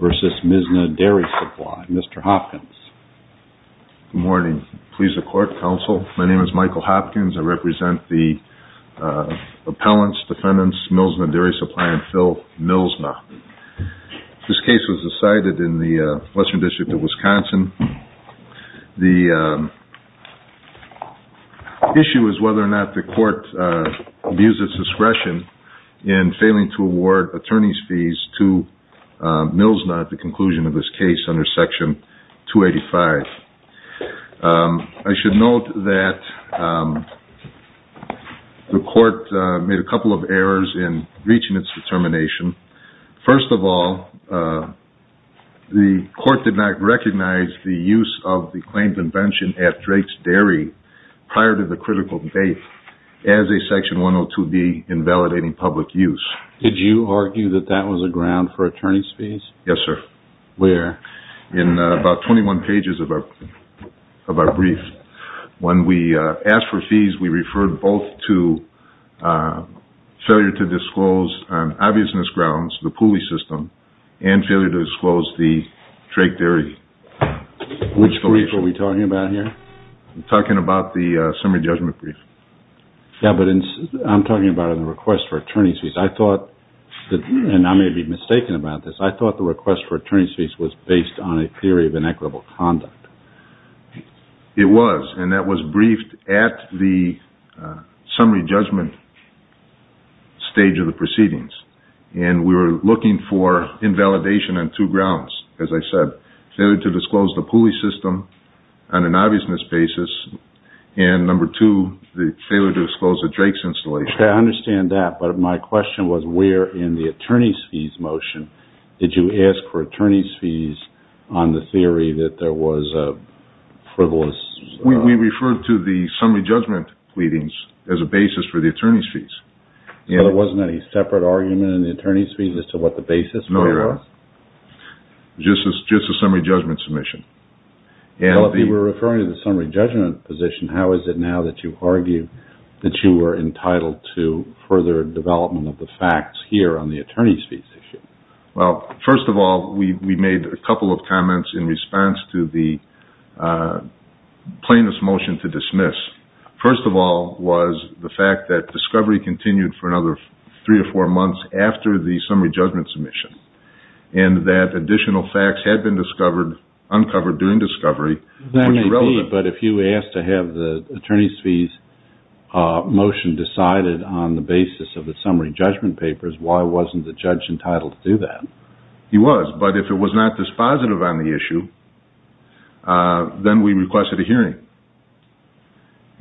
vs. Mlsna Dairy Supply. Mr. Hopkins. Good morning. Please accord, counsel. My name is Michael Hopkins. I represent the appellants, defendants, Mlsna Dairy Supply, and Phil Mlsna. This case was decided in the Western District of Wisconsin. The issue is whether or not the court views its discretion in failing to award attorney's fees to Mlsna at the conclusion of this case under Section 285. I should note that the court made a couple of errors in reaching its determination. First of all, the court did not recognize the use of the claimed invention at Drake's Dairy prior to the critical date as a Section 102B in validating public use. Did you argue that that was a ground for attorney's fees? Yes, sir. Where? In about 21 pages of our brief. When we asked for fees, we referred both to failure to disclose on obviousness grounds the Pooley System and failure to disclose the Drake Dairy. Which brief are we talking about here? I'm talking about the summary judgment brief. I'm talking about the request for attorney's fees. I thought, and I may be mistaken about this, I thought the request for attorney's fees was based on a theory of inequitable conduct. It was, and that was briefed at the summary judgment stage of the proceedings. We were looking for invalidation on two grounds. As I said, failure to disclose the Pooley System on an obviousness basis, and number two, the failure to disclose the Drake's installation. I understand that, but my question was where in the attorney's fees motion did you ask for attorney's fees on the theory that there was a frivolous... We referred to the summary judgment pleadings as a basis for the attorney's fees. There wasn't any separate argument in the attorney's fees as to what the basis was? Just a summary judgment submission. If you were referring to the summary judgment position, how is it now that you argue that you were entitled to further development of the facts here on the attorney's fees issue? First of all, we made a couple of comments in response to the motion to dismiss. First of all was the fact that discovery continued for another three or four months after the summary judgment submission, and that additional facts had been discovered, uncovered during discovery. But if you asked to have the attorney's fees motion decided on the basis of the summary judgment papers, why wasn't the judge entitled to do that? He was, but if it was not dispositive on the issue, then we requested a hearing.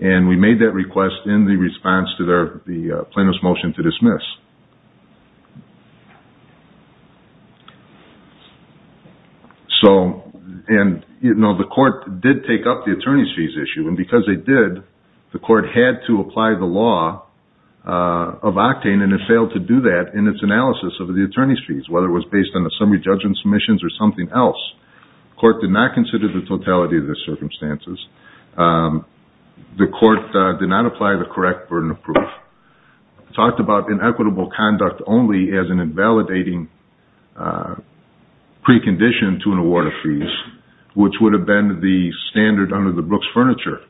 We made that request in the response to the plaintiff's motion to dismiss. The court did take up the attorney's fees issue, and because they did, the court had to apply the law of octane, and it failed to do that in its analysis of the attorney's fees, whether it was based on the summary judgment submissions or something else. The court did not consider the totality of the circumstances. The court did not apply the correct burden of proof. It talked about inequitable conduct only as an invalidating precondition to an award of fees, which would have been the standard under the Brooks Furniture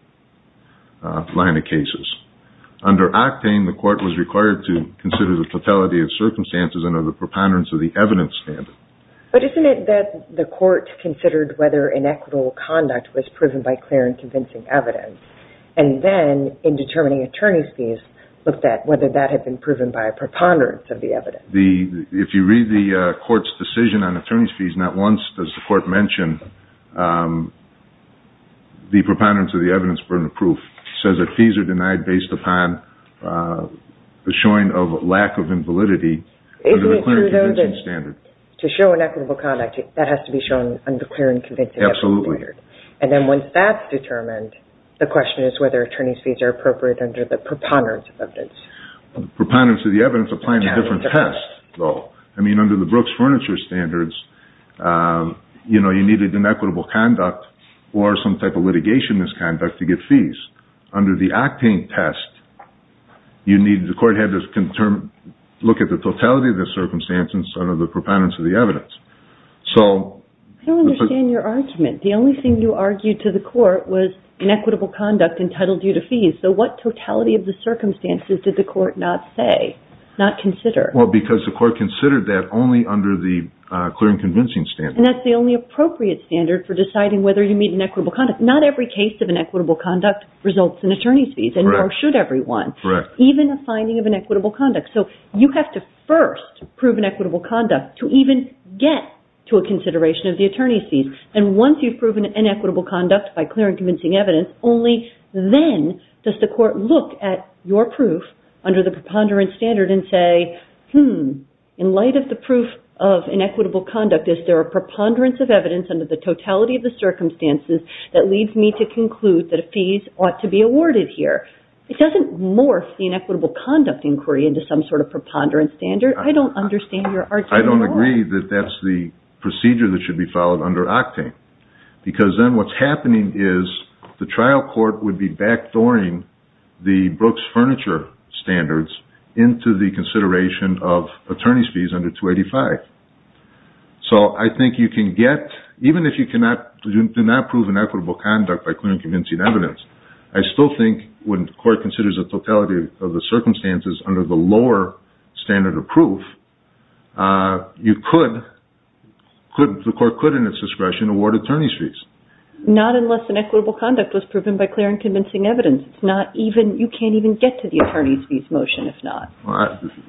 line of cases. Under octane, the court was required to consider the totality of circumstances under the preponderance of the evidence standard. But isn't it that the court considered whether inequitable conduct was proven by clear and convincing evidence, and then, in determining attorney's fees, looked at whether that had been proven by a preponderance of the evidence? If you read the court's decision on attorney's fees, not once does the court mention the preponderance of the evidence burden of proof. It says that fees are denied based upon the showing of lack of invalidity under the clear and convincing standard. To show inequitable conduct, that has to be shown under clear and convincing evidence standard. Absolutely. And then once that's determined, the question is whether attorney's fees are appropriate under the preponderance of evidence. Preponderance of the evidence, applying a different test, though. Under the Brooks Furniture standards, you needed inequitable conduct or some type of litigation misconduct to get fees. Under the octane test, the court had to look at the totality of the circumstances under the preponderance of the evidence. I don't understand your argument. The only thing you argued to the court was inequitable conduct entitled due to fees. So what totality of the circumstances did the court not say, not consider? Well, because the court considered that only under the clear and convincing standard. And that's the only appropriate standard for deciding whether you meet inequitable conduct. Not every case of inequitable conduct results in attorney's fees, nor should everyone. Correct. Even a finding of inequitable conduct. So you have to first prove inequitable conduct to even get to a consideration of the attorney's fees. And once you've proven inequitable conduct by clear and convincing evidence, only then does the court look at your proof under the preponderance standard and say, hmm, in light of the proof of inequitable conduct, is there a preponderance of evidence under the totality of the circumstances that leads me to conclude that fees ought to be awarded here? It doesn't morph the inequitable conduct inquiry into some sort of preponderance standard. I don't understand your argument at all. I don't agree that that's the procedure that should be followed under octane. Because then what's happening is the trial court would be backdooring the Brooks Furniture Standards into the consideration of attorney's fees under 285. So I think you can get, even if you do not prove inequitable conduct by clear and convincing evidence, I still think when the court considers the totality of the circumstances under the lower standard of proof, you could, the court could in its discretion, award attorney's fees. Not unless inequitable conduct was proven by clear and convincing evidence. You can't even get to the attorney's fees motion if not.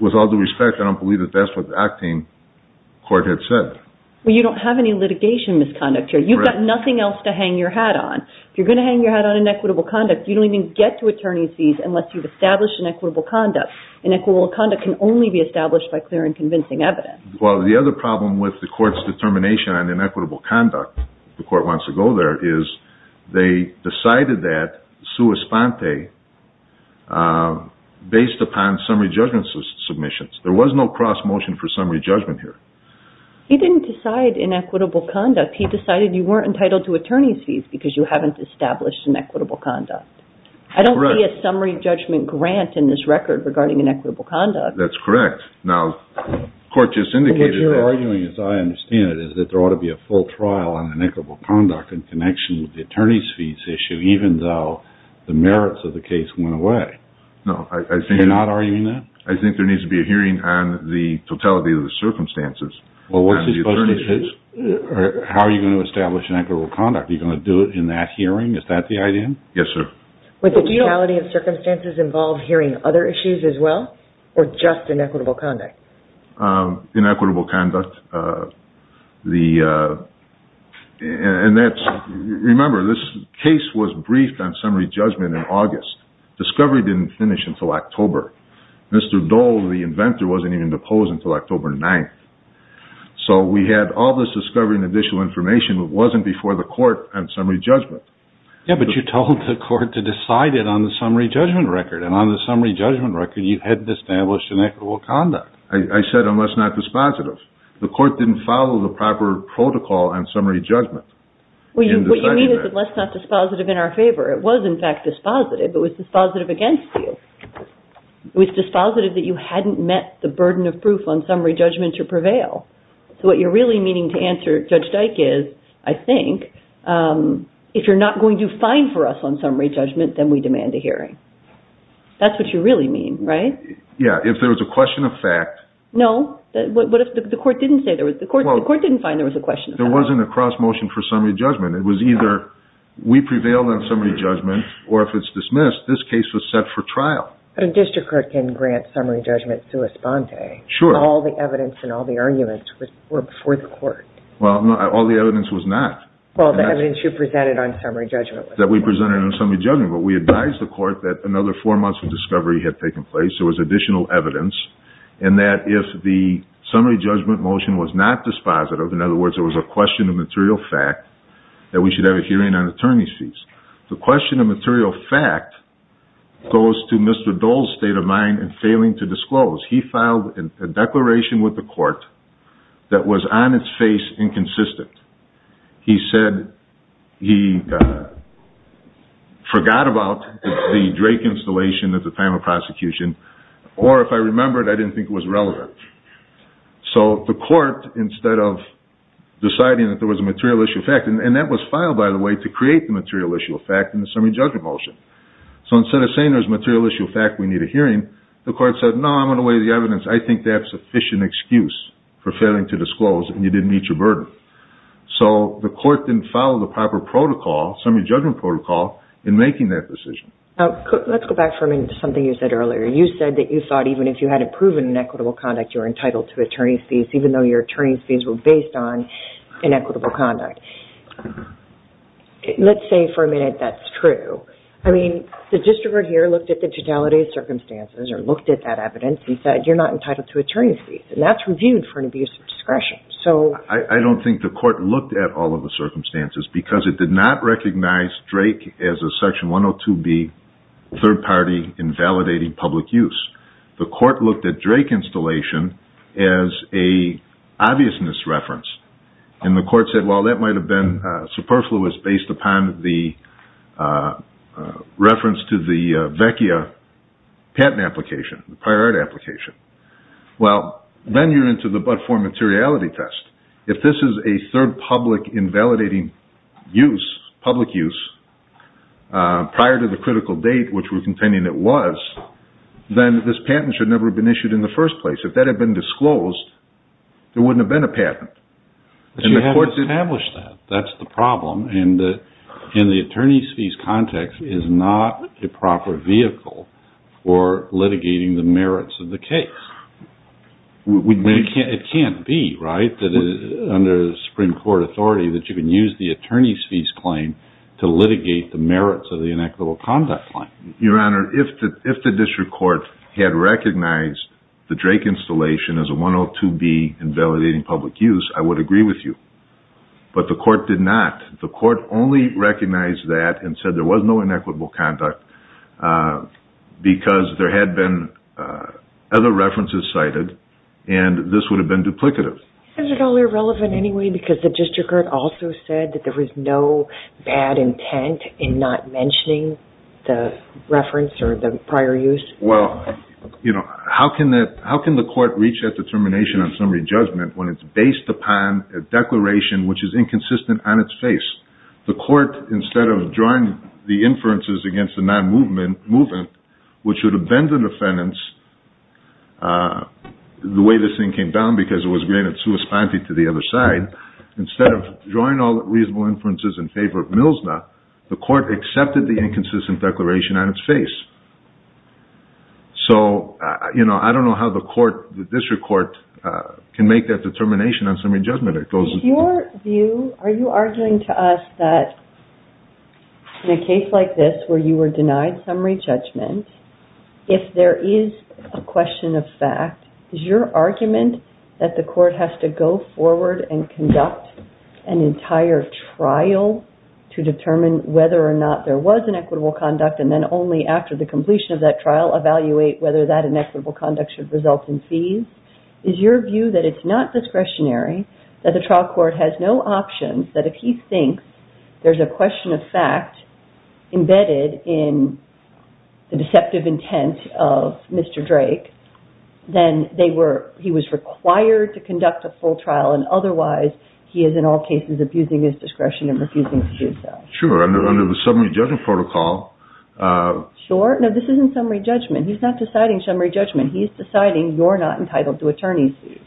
With all due respect, I don't believe that that's what the octane court had said. Well, you don't have any litigation misconduct here. You've got nothing else to hang your hat on. If you're going to hang your hat on inequitable conduct, you don't even get to attorney's fees unless you've established inequitable conduct. Inequitable conduct can only be established by clear and convincing evidence. Well, the other problem with the court's determination on inequitable conduct, the court wants to go there, is they decided that sua sponte based upon summary judgment submissions. There was no cross motion for summary judgment here. He didn't decide inequitable conduct. He decided you weren't entitled to attorney's fees because you haven't established inequitable conduct. I don't see a summary judgment grant in this record regarding inequitable conduct. That's correct. Now, the court just indicated that. What you're arguing, as I understand it, is that there ought to be a full trial on inequitable conduct in connection with the attorney's fees issue, even though the merits of the case went away. You're not arguing that? I think there needs to be a hearing on the totality of the circumstances. How are you going to establish inequitable conduct? Are you going to do it in that hearing? Is that the idea? Yes, sir. Would the totality of circumstances involve hearing other issues as well, or just inequitable conduct? Inequitable conduct. Remember, this case was briefed on summary judgment in August. Discovery didn't finish until October. Mr. Dole, the inventor, wasn't even deposed until October 9th. We had all this discovery and additional information. It wasn't before the court on summary judgment. Yeah, but you told the court to decide it on the summary judgment record. On the summary judgment record, you hadn't established inequitable conduct. I said, unless not dispositive. The court didn't follow the proper protocol on summary judgment. It was, in fact, dispositive, but it was dispositive against you. It was dispositive that you hadn't met the burden of proof on summary judgment to prevail. So what you're really meaning to answer, Judge Dyke, is, I think, if you're not going to find for us on summary judgment, then we demand a hearing. That's what you really mean, right? Yeah. If there was a question of fact... No. What if the court didn't say there was... The court didn't find there was a question of fact. There wasn't a cross-motion for summary judgment. It was either we prevailed on summary judgment, or if it's dismissed, this case was set for trial. But a district court can grant summary judgment sua sponte. Sure. All the evidence and all the arguments were before the court. Well, no. All the evidence was not. Well, the evidence you presented on summary judgment. That we presented on summary judgment. But we advised the court that another four months of discovery had taken place. There was additional evidence, and that if the summary judgment motion was not dispositive, in other words, there was a question of material fact, that we should have a hearing on attorney's fees. The question of material fact goes to Mr. Dole's state of mind in failing to disclose. He filed a declaration with the court that was on its face inconsistent. He said he forgot about the Drake installation at the time of prosecution, or if I remember it, I didn't think it was relevant. So the court, instead of deciding that there was a material issue of fact, and that was filed, by the way, to create the material issue of fact in the summary judgment motion. So instead of saying there's a material issue of fact, we need a hearing, the court said, no, I'm going to weigh the evidence. I think that's a sufficient excuse for failing to disclose and you didn't meet your burden. So the court didn't follow the proper protocol, summary judgment protocol, in making that decision. Let's go back for a minute to something you said earlier. You said that you thought even if you hadn't proven inequitable conduct, you were entitled to attorney's fees, even though your attorney's fees were based on inequitable conduct. Let's say for a minute that's true. I mean, the distributor here looked at the totality of circumstances, or looked at that evidence, and said you're not entitled to attorney's fees, and that's reviewed for an abuse of discretion. I don't think the court looked at all of the circumstances because it did not recognize Drake as a section 102B third-party invalidating public use. The court looked at Drake installation as a obviousness reference, and the court said, well, that might have been superfluous based upon the reference to the VECIA patent application, the prior art application. Well, then you're into the but-for materiality test. If this is a third public invalidating use, public use, prior to the critical date, which we're contending it was, then this patent should never have been issued in the first place. If that had been disclosed, there wouldn't have been a patent. But you haven't established that. That's the problem, and the attorney's fees context is not a proper vehicle for litigating the merits of the case. It can't be, right, under the Supreme Court authority that you can use the attorney's fees claim to litigate the merits of the inequitable conduct claim. Your Honor, if the district court had recognized the Drake installation as a 102B invalidating public use, I would agree with you, but the court did not. The court only recognized that and said there was no inequitable conduct because there had been other references cited, and this would have been duplicative. Is it all irrelevant anyway because the district court also said that there was no bad intent in not mentioning the reference or the prior use? Well, how can the court reach that determination on summary judgment when it's based upon a declaration which is inconsistent on its face? The court, instead of drawing the inferences against the non-movement, which would have been the defendants, the way this thing came down, because it was granted sui spante to the other side, instead of drawing all the reasonable inferences in favor of Millsna, the court accepted the inconsistent declaration on its face. So, I don't know how the district court can make that determination on summary judgment. Is your view, are you arguing to us that in a case like this where you were denied summary judgment, if there is a question of fact, is your argument that the court has to go forward and conduct an entire trial to determine whether or not there was inequitable conduct and then only after the completion of that trial evaluate whether that is not discretionary, that the trial court has no options, that if he thinks there's a question of fact embedded in the deceptive intent of Mr. Drake, then he was required to conduct a full trial and otherwise he is in all cases abusing his discretion and refusing to do so? Sure, under the summary judgment protocol. Sure? No, this isn't summary judgment. He's not deciding summary judgment, he's deciding you're not entitled to attorney's fees.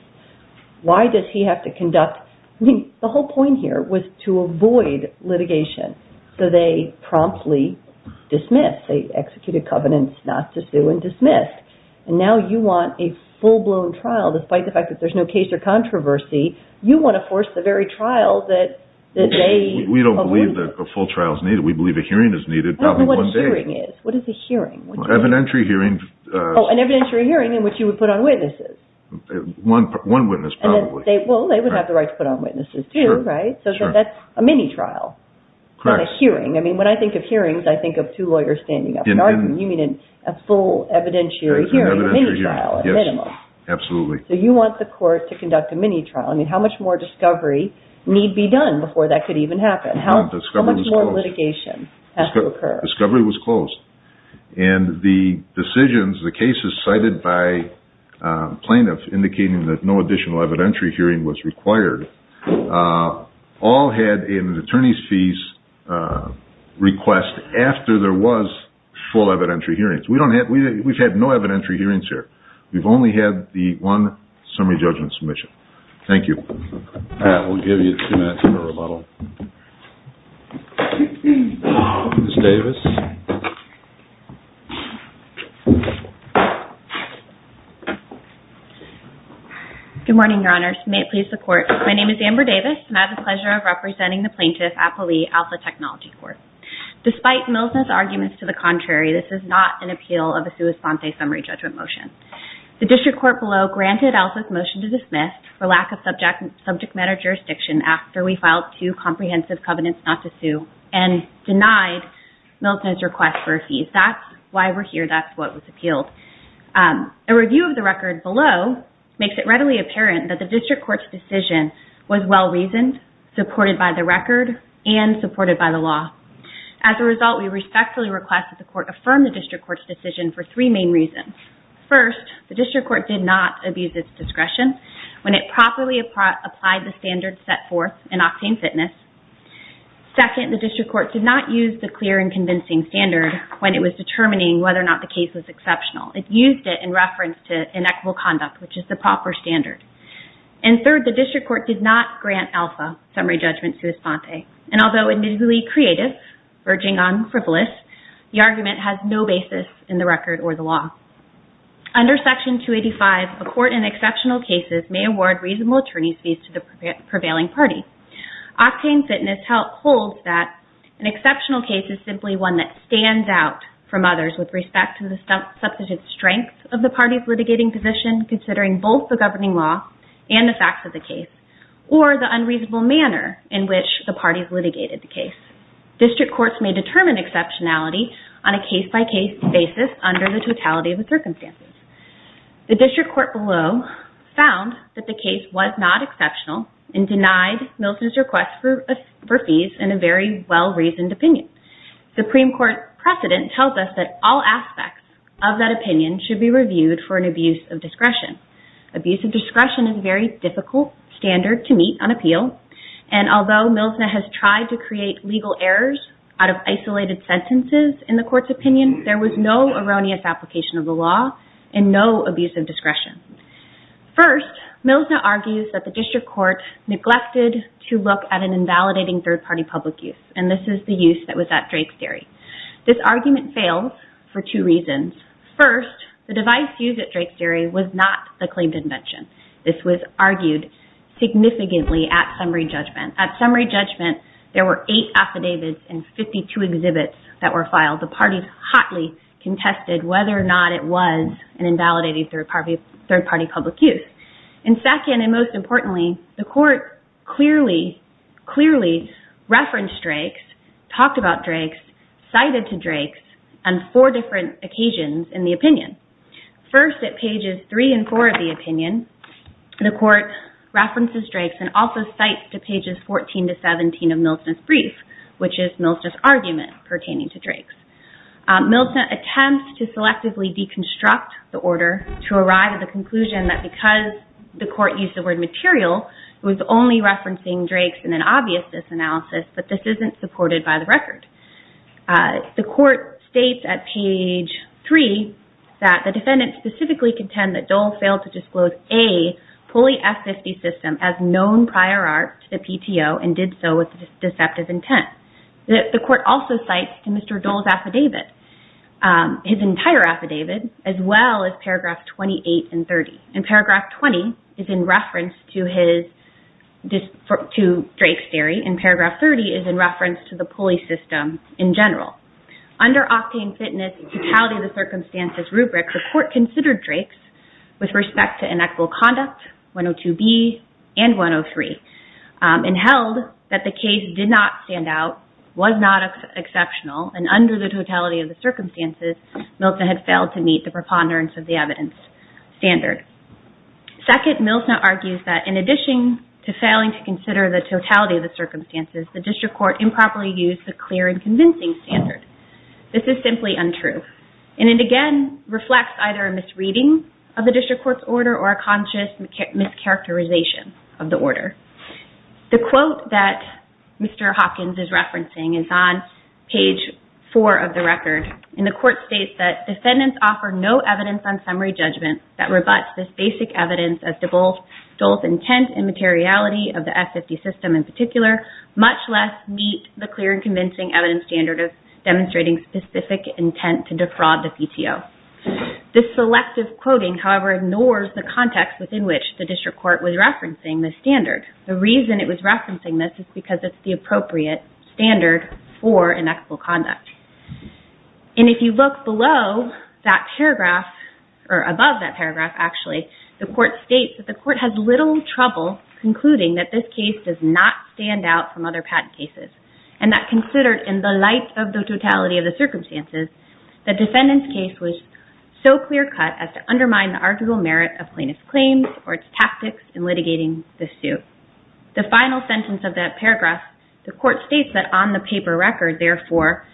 Why does he have to conduct, I mean, the whole point here was to avoid litigation. So they promptly dismissed, they executed covenants not to sue and dismissed. And now you want a full-blown trial, despite the fact that there's no case or controversy, you want to force the very trial that they avoided. We don't believe that a full trial is needed. We believe a hearing is needed, probably one day. What is a hearing? Oh, an evidentiary hearing in which you would put on witnesses. One witness, probably. Well, they would have the right to put on witnesses too, right? So that's a mini-trial, not a hearing. I mean, when I think of hearings, I think of two lawyers standing up and arguing. You mean a full evidentiary hearing, a mini-trial at minimum. Yes, absolutely. So you want the court to conduct a mini-trial. I mean, how much more discovery need be done before that could even happen? How much more litigation has to occur? Discovery was closed. And the decisions, the cases cited by plaintiffs indicating that no additional evidentiary hearing was required, all had an attorney's fees request after there was full evidentiary hearings. We've had no evidence of that. Thank you. We'll give you two minutes for a little... Ms. Davis. Good morning, Your Honors. May it please the Court. My name is Amber Davis and I have the pleasure of representing the plaintiff at Poli Alpha Technology Court. Despite Milnes' arguments to the contrary, this is not an appeal of a sua sante summary judgment motion. The District Court below granted Elsa's motion to dismiss for lack of subject matter jurisdiction after we filed two comprehensive covenants not to sue and denied Milnes' request for a fee. That's why we're here. That's why it was appealed. A review of the record below makes it readily apparent that the District Court's decision was well-reasoned, supported by the record, and supported by the law. As a result, we respectfully request that the Court affirm the District Court's decision for three main reasons. First, the District Court did not abuse its discretion when it properly applied the standards set forth in Octane Fitness. Second, the District Court did not use the clear and convincing standard when it was determining whether or not the case was exceptional. It used it in reference to inequitable conduct, which is the proper standard. And third, the District Court did not grant Elsa summary judgment sua sante. And although admittedly creative, verging on frivolous, the argument has no basis in the record or the law. Under Section 285, a court in exceptional cases may award reasonable attorney's fees to the prevailing party. Octane Fitness holds that an exceptional case is simply one that stands out from others with respect to the substantive strength of the party's litigating position, considering both the governing law and the facts of the case, or the unreasonable manner in which the parties litigated the case. District courts may determine exceptionality on a case-by-case basis under the totality of the circumstances. The District Court below found that the case was not exceptional and denied Milton's request for fees in a very well-reasoned opinion. Supreme Court precedent tells us that all aspects of that opinion should be reviewed for an abuse of discretion. Abuse of discretion is a very difficult standard to meet on appeal, and although Milsner has tried to create legal errors out of isolated sentences in the court's opinion, there was no erroneous application of the law and no abuse of discretion. First, Milsner argues that the District Court neglected to look at an invalidating third-party public use, and this is the use that was at Drake's Dairy. This argument failed for two reasons. First, the devised use at Drake's Dairy was not the claimed invention. This was argued significantly at summary judgment. At summary judgment, there were eight affidavits and 52 exhibits that were filed. The parties hotly contested whether or not it was an invalidating third-party public use. And second, and most importantly, the court clearly referenced Drake's, talked about Drake's, cited to Drake's on four different occasions in the opinion. First, at pages 3 and 4 of the opinion, the court references Drake's and also cites to pages 14 to 17 of Milsner's brief, which is Milsner's argument pertaining to Drake's. Milsner attempts to selectively deconstruct the order to arrive at the conclusion that because the court used the word material, it was only referencing Drake's in an obvious disanalysis, but this isn't supported by the record. The court states at page 3 that the defendants specifically contend that Dole failed to disclose a Pulley F-50 system as known prior art to the PTO and did so with deceptive intent. The court also cites to Mr. Dole's affidavit, his entire affidavit, as well as paragraph 28 and 30. And paragraph 20 is in reference to his, to Drake's theory, and paragraph 30 is in reference to the Pulley system in general. Under octane fitness and totality of the circumstances, Milsner had failed to meet the preponderance of the evidence standard. Second, Milsner argues that in addition to failing to consider the totality of the circumstances, the district court improperly used the clear and convincing standard. This is simply untrue. And it again reflects either a misreading of the district court's order or a conscious mischaracterization of the order. The quote that Mr. Hopkins is referencing is on page 4 of the record. And the court states that defendants offer no evidence on summary judgment that rebuts this basic evidence of Dole's intent and materiality of the F-50 system in particular, much less meet the clear and convincing evidence standard of demonstrating specific intent to defraud the PTO. This selective quoting, however, ignores the context within which the district court was referencing this standard. The reason it was referencing this is because it's the appropriate standard for inexplicable conduct. And if you look below that paragraph, or above that paragraph actually, the court states that the court has little trouble concluding that this case does not stand out from other patent cases and that considered in the light of the totality of the circumstances, the defendant's case was so clear cut as to undermine the article merit of plaintiff's claims or its tactics in litigating the suit. The final sentence of that paragraph, the court states that on the paper record, therefore,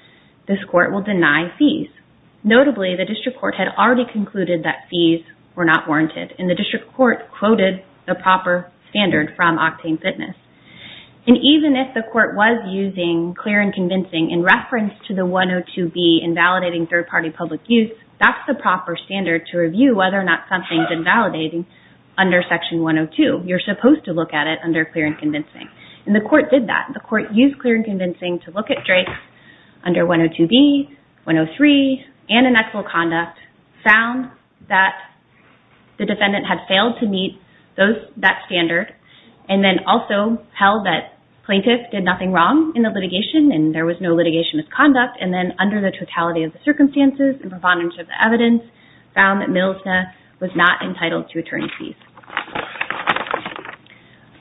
this court will deny fees. Notably, the district court had already concluded that fees were not warranted. And the district court quoted the proper standard from Octane Fitness. And even if the court was using clear and convincing in reference to the 102B in validating third-party public use, that's the proper standard to review whether or not something's invalidating under Section 102. You're supposed to look at it under clear and convincing. And the court did that. The court used clear and convincing to look at Drake under 102B, 103, and inexplicable conduct, found that the defendant had failed to meet that standard, and then also held that plaintiff did nothing wrong in the litigation and there was no litigation misconduct, and then under the totality of the circumstances and preponderance of the evidence, found that Millsna was not entitled to attorney's fees.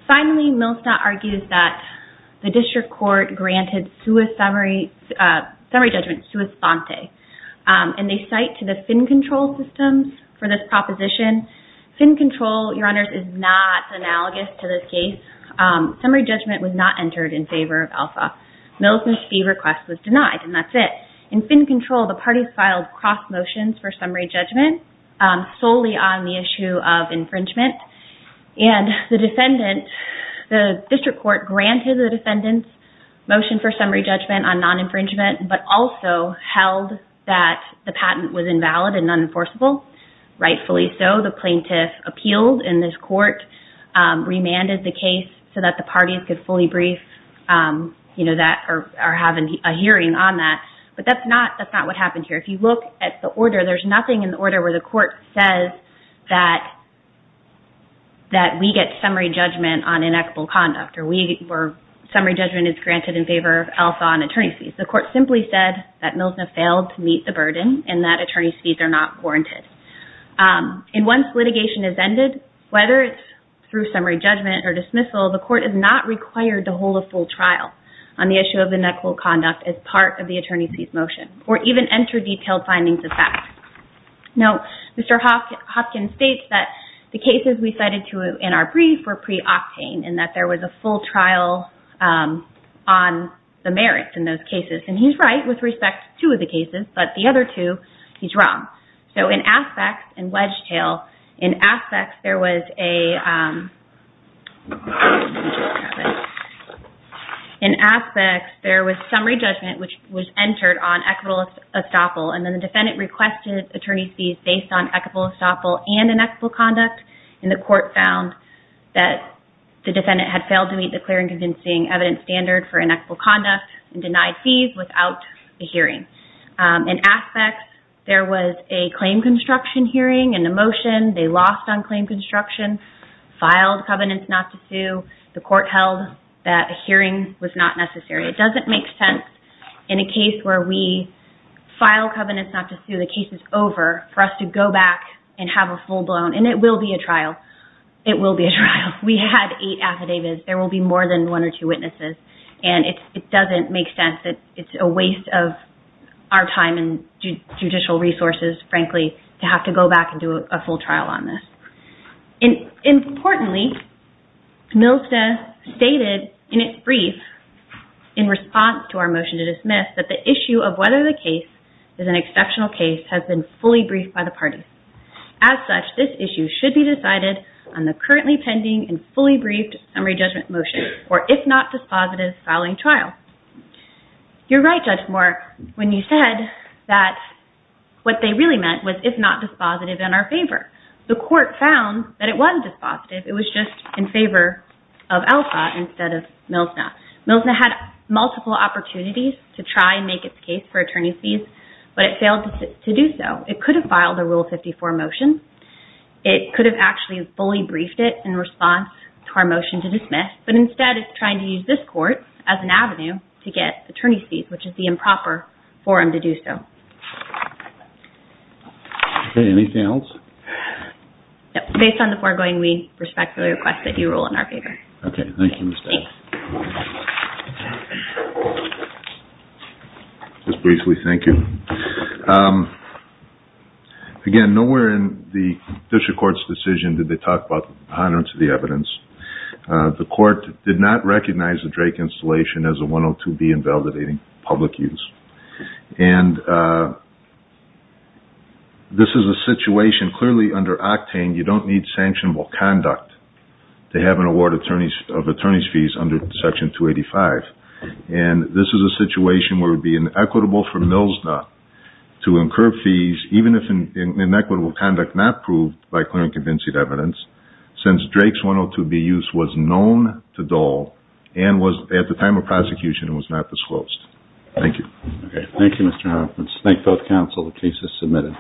Finally, Millsna argues that the district court granted summary judgment sui sante, and they cite to the Finn Control systems for this proposition. Finn Control, Your Honors, is not analogous to this case. Summary judgment was not entered in favor of Alpha. Millsna's fee request was denied, and that's it. In Finn Control, the parties filed cross-motions for summary judgment solely on the issue of infringement. And the district court granted the defendant's motion for summary judgment on non-infringement, but also held that the patent was invalid and unenforceable. Rightfully so, the plaintiff appealed in this court, remanded the case so that the parties could fully brief or have a hearing on that. But that's not what happened here. If you look at the order, there's nothing in the order where the court says that we get summary judgment on inequitable conduct, or summary judgment is granted in favor of Alpha on attorney's fees. The court simply said that Millsna failed to meet the burden and that attorney's fees are not warranted. And once litigation has ended, whether it's through summary judgment or dismissal, the court is not required to hold a full trial on the issue of inequitable conduct as part of the attorney's fees motion, or even enter detailed findings of fact. Now, Mr. Hopkins states that the cases we cited in our brief were pre-Octane, and that there was a full trial on the merits in those cases. And he's right with respect to two of the cases, but the other two, he's wrong. So in Aspects and Wedgetail, in Aspects there was a, in Aspects, there was summary judgment which was entered on equitable estoppel, and then the defendant requested attorney's fees based on equitable estoppel and inequitable conduct, and the court found that the defendant had failed to meet the clear and convincing evidence standard for inequitable conduct and denied fees without a hearing. In Aspects, there was a claim construction hearing and a motion. They lost on claim construction, filed covenants not to sue. The court held that a hearing was not necessary. It doesn't make sense in a case where we file covenants not to sue. The case is over for us to go back and have a full blown, and it will be a trial. It will be a trial. We had eight affidavits. There will be more than one or two witnesses. And it doesn't make sense that it's a waste of our time and judicial resources, frankly, to have to go back and do a full trial on this. Importantly, MILSTA stated in its brief in response to our motion to dismiss that the issue of whether the case is an exceptional case has been fully briefed by the parties. As such, this issue should be decided on the currently pending and fully briefed summary judgment motion for if not dispositive filing trial. You're right, Judge Moore, when you said that what they really meant was if not dispositive in our favor. The court found that it wasn't dispositive. It was just in favor of Alpha instead of MILSTA. MILSTA had multiple opportunities to try and make its case for attorney's fees, but it failed to do so. It could have filed a Rule 54 motion. It could have actually fully briefed it in response to our motion to dismiss, but instead it's trying to use this court as an avenue to get attorney's fees, which is the improper forum to do so. Anything else? Based on the foregoing, we respectfully request that you rule in our favor. Okay. Thank you, Mr. Adams. Just briefly, thank you. Again, nowhere in the district court's decision did they talk about the honorance of the evidence. The court did not recognize the Drake installation as a 102B invalidating public use. And this is a situation clearly under Octane, you don't need sanctionable conduct to have an award of attorney's fees under Section 285. And this is a situation where it would be inequitable for MILSTA to incur fees, even if inequitable conduct not proved by clear and convincing evidence, since Drake's 102B use was known to Dole and at the time of prosecution was not disclosed. Thank you. Okay. Thank you, Mr. Hopkins. Thank both counsel. The case is submitted.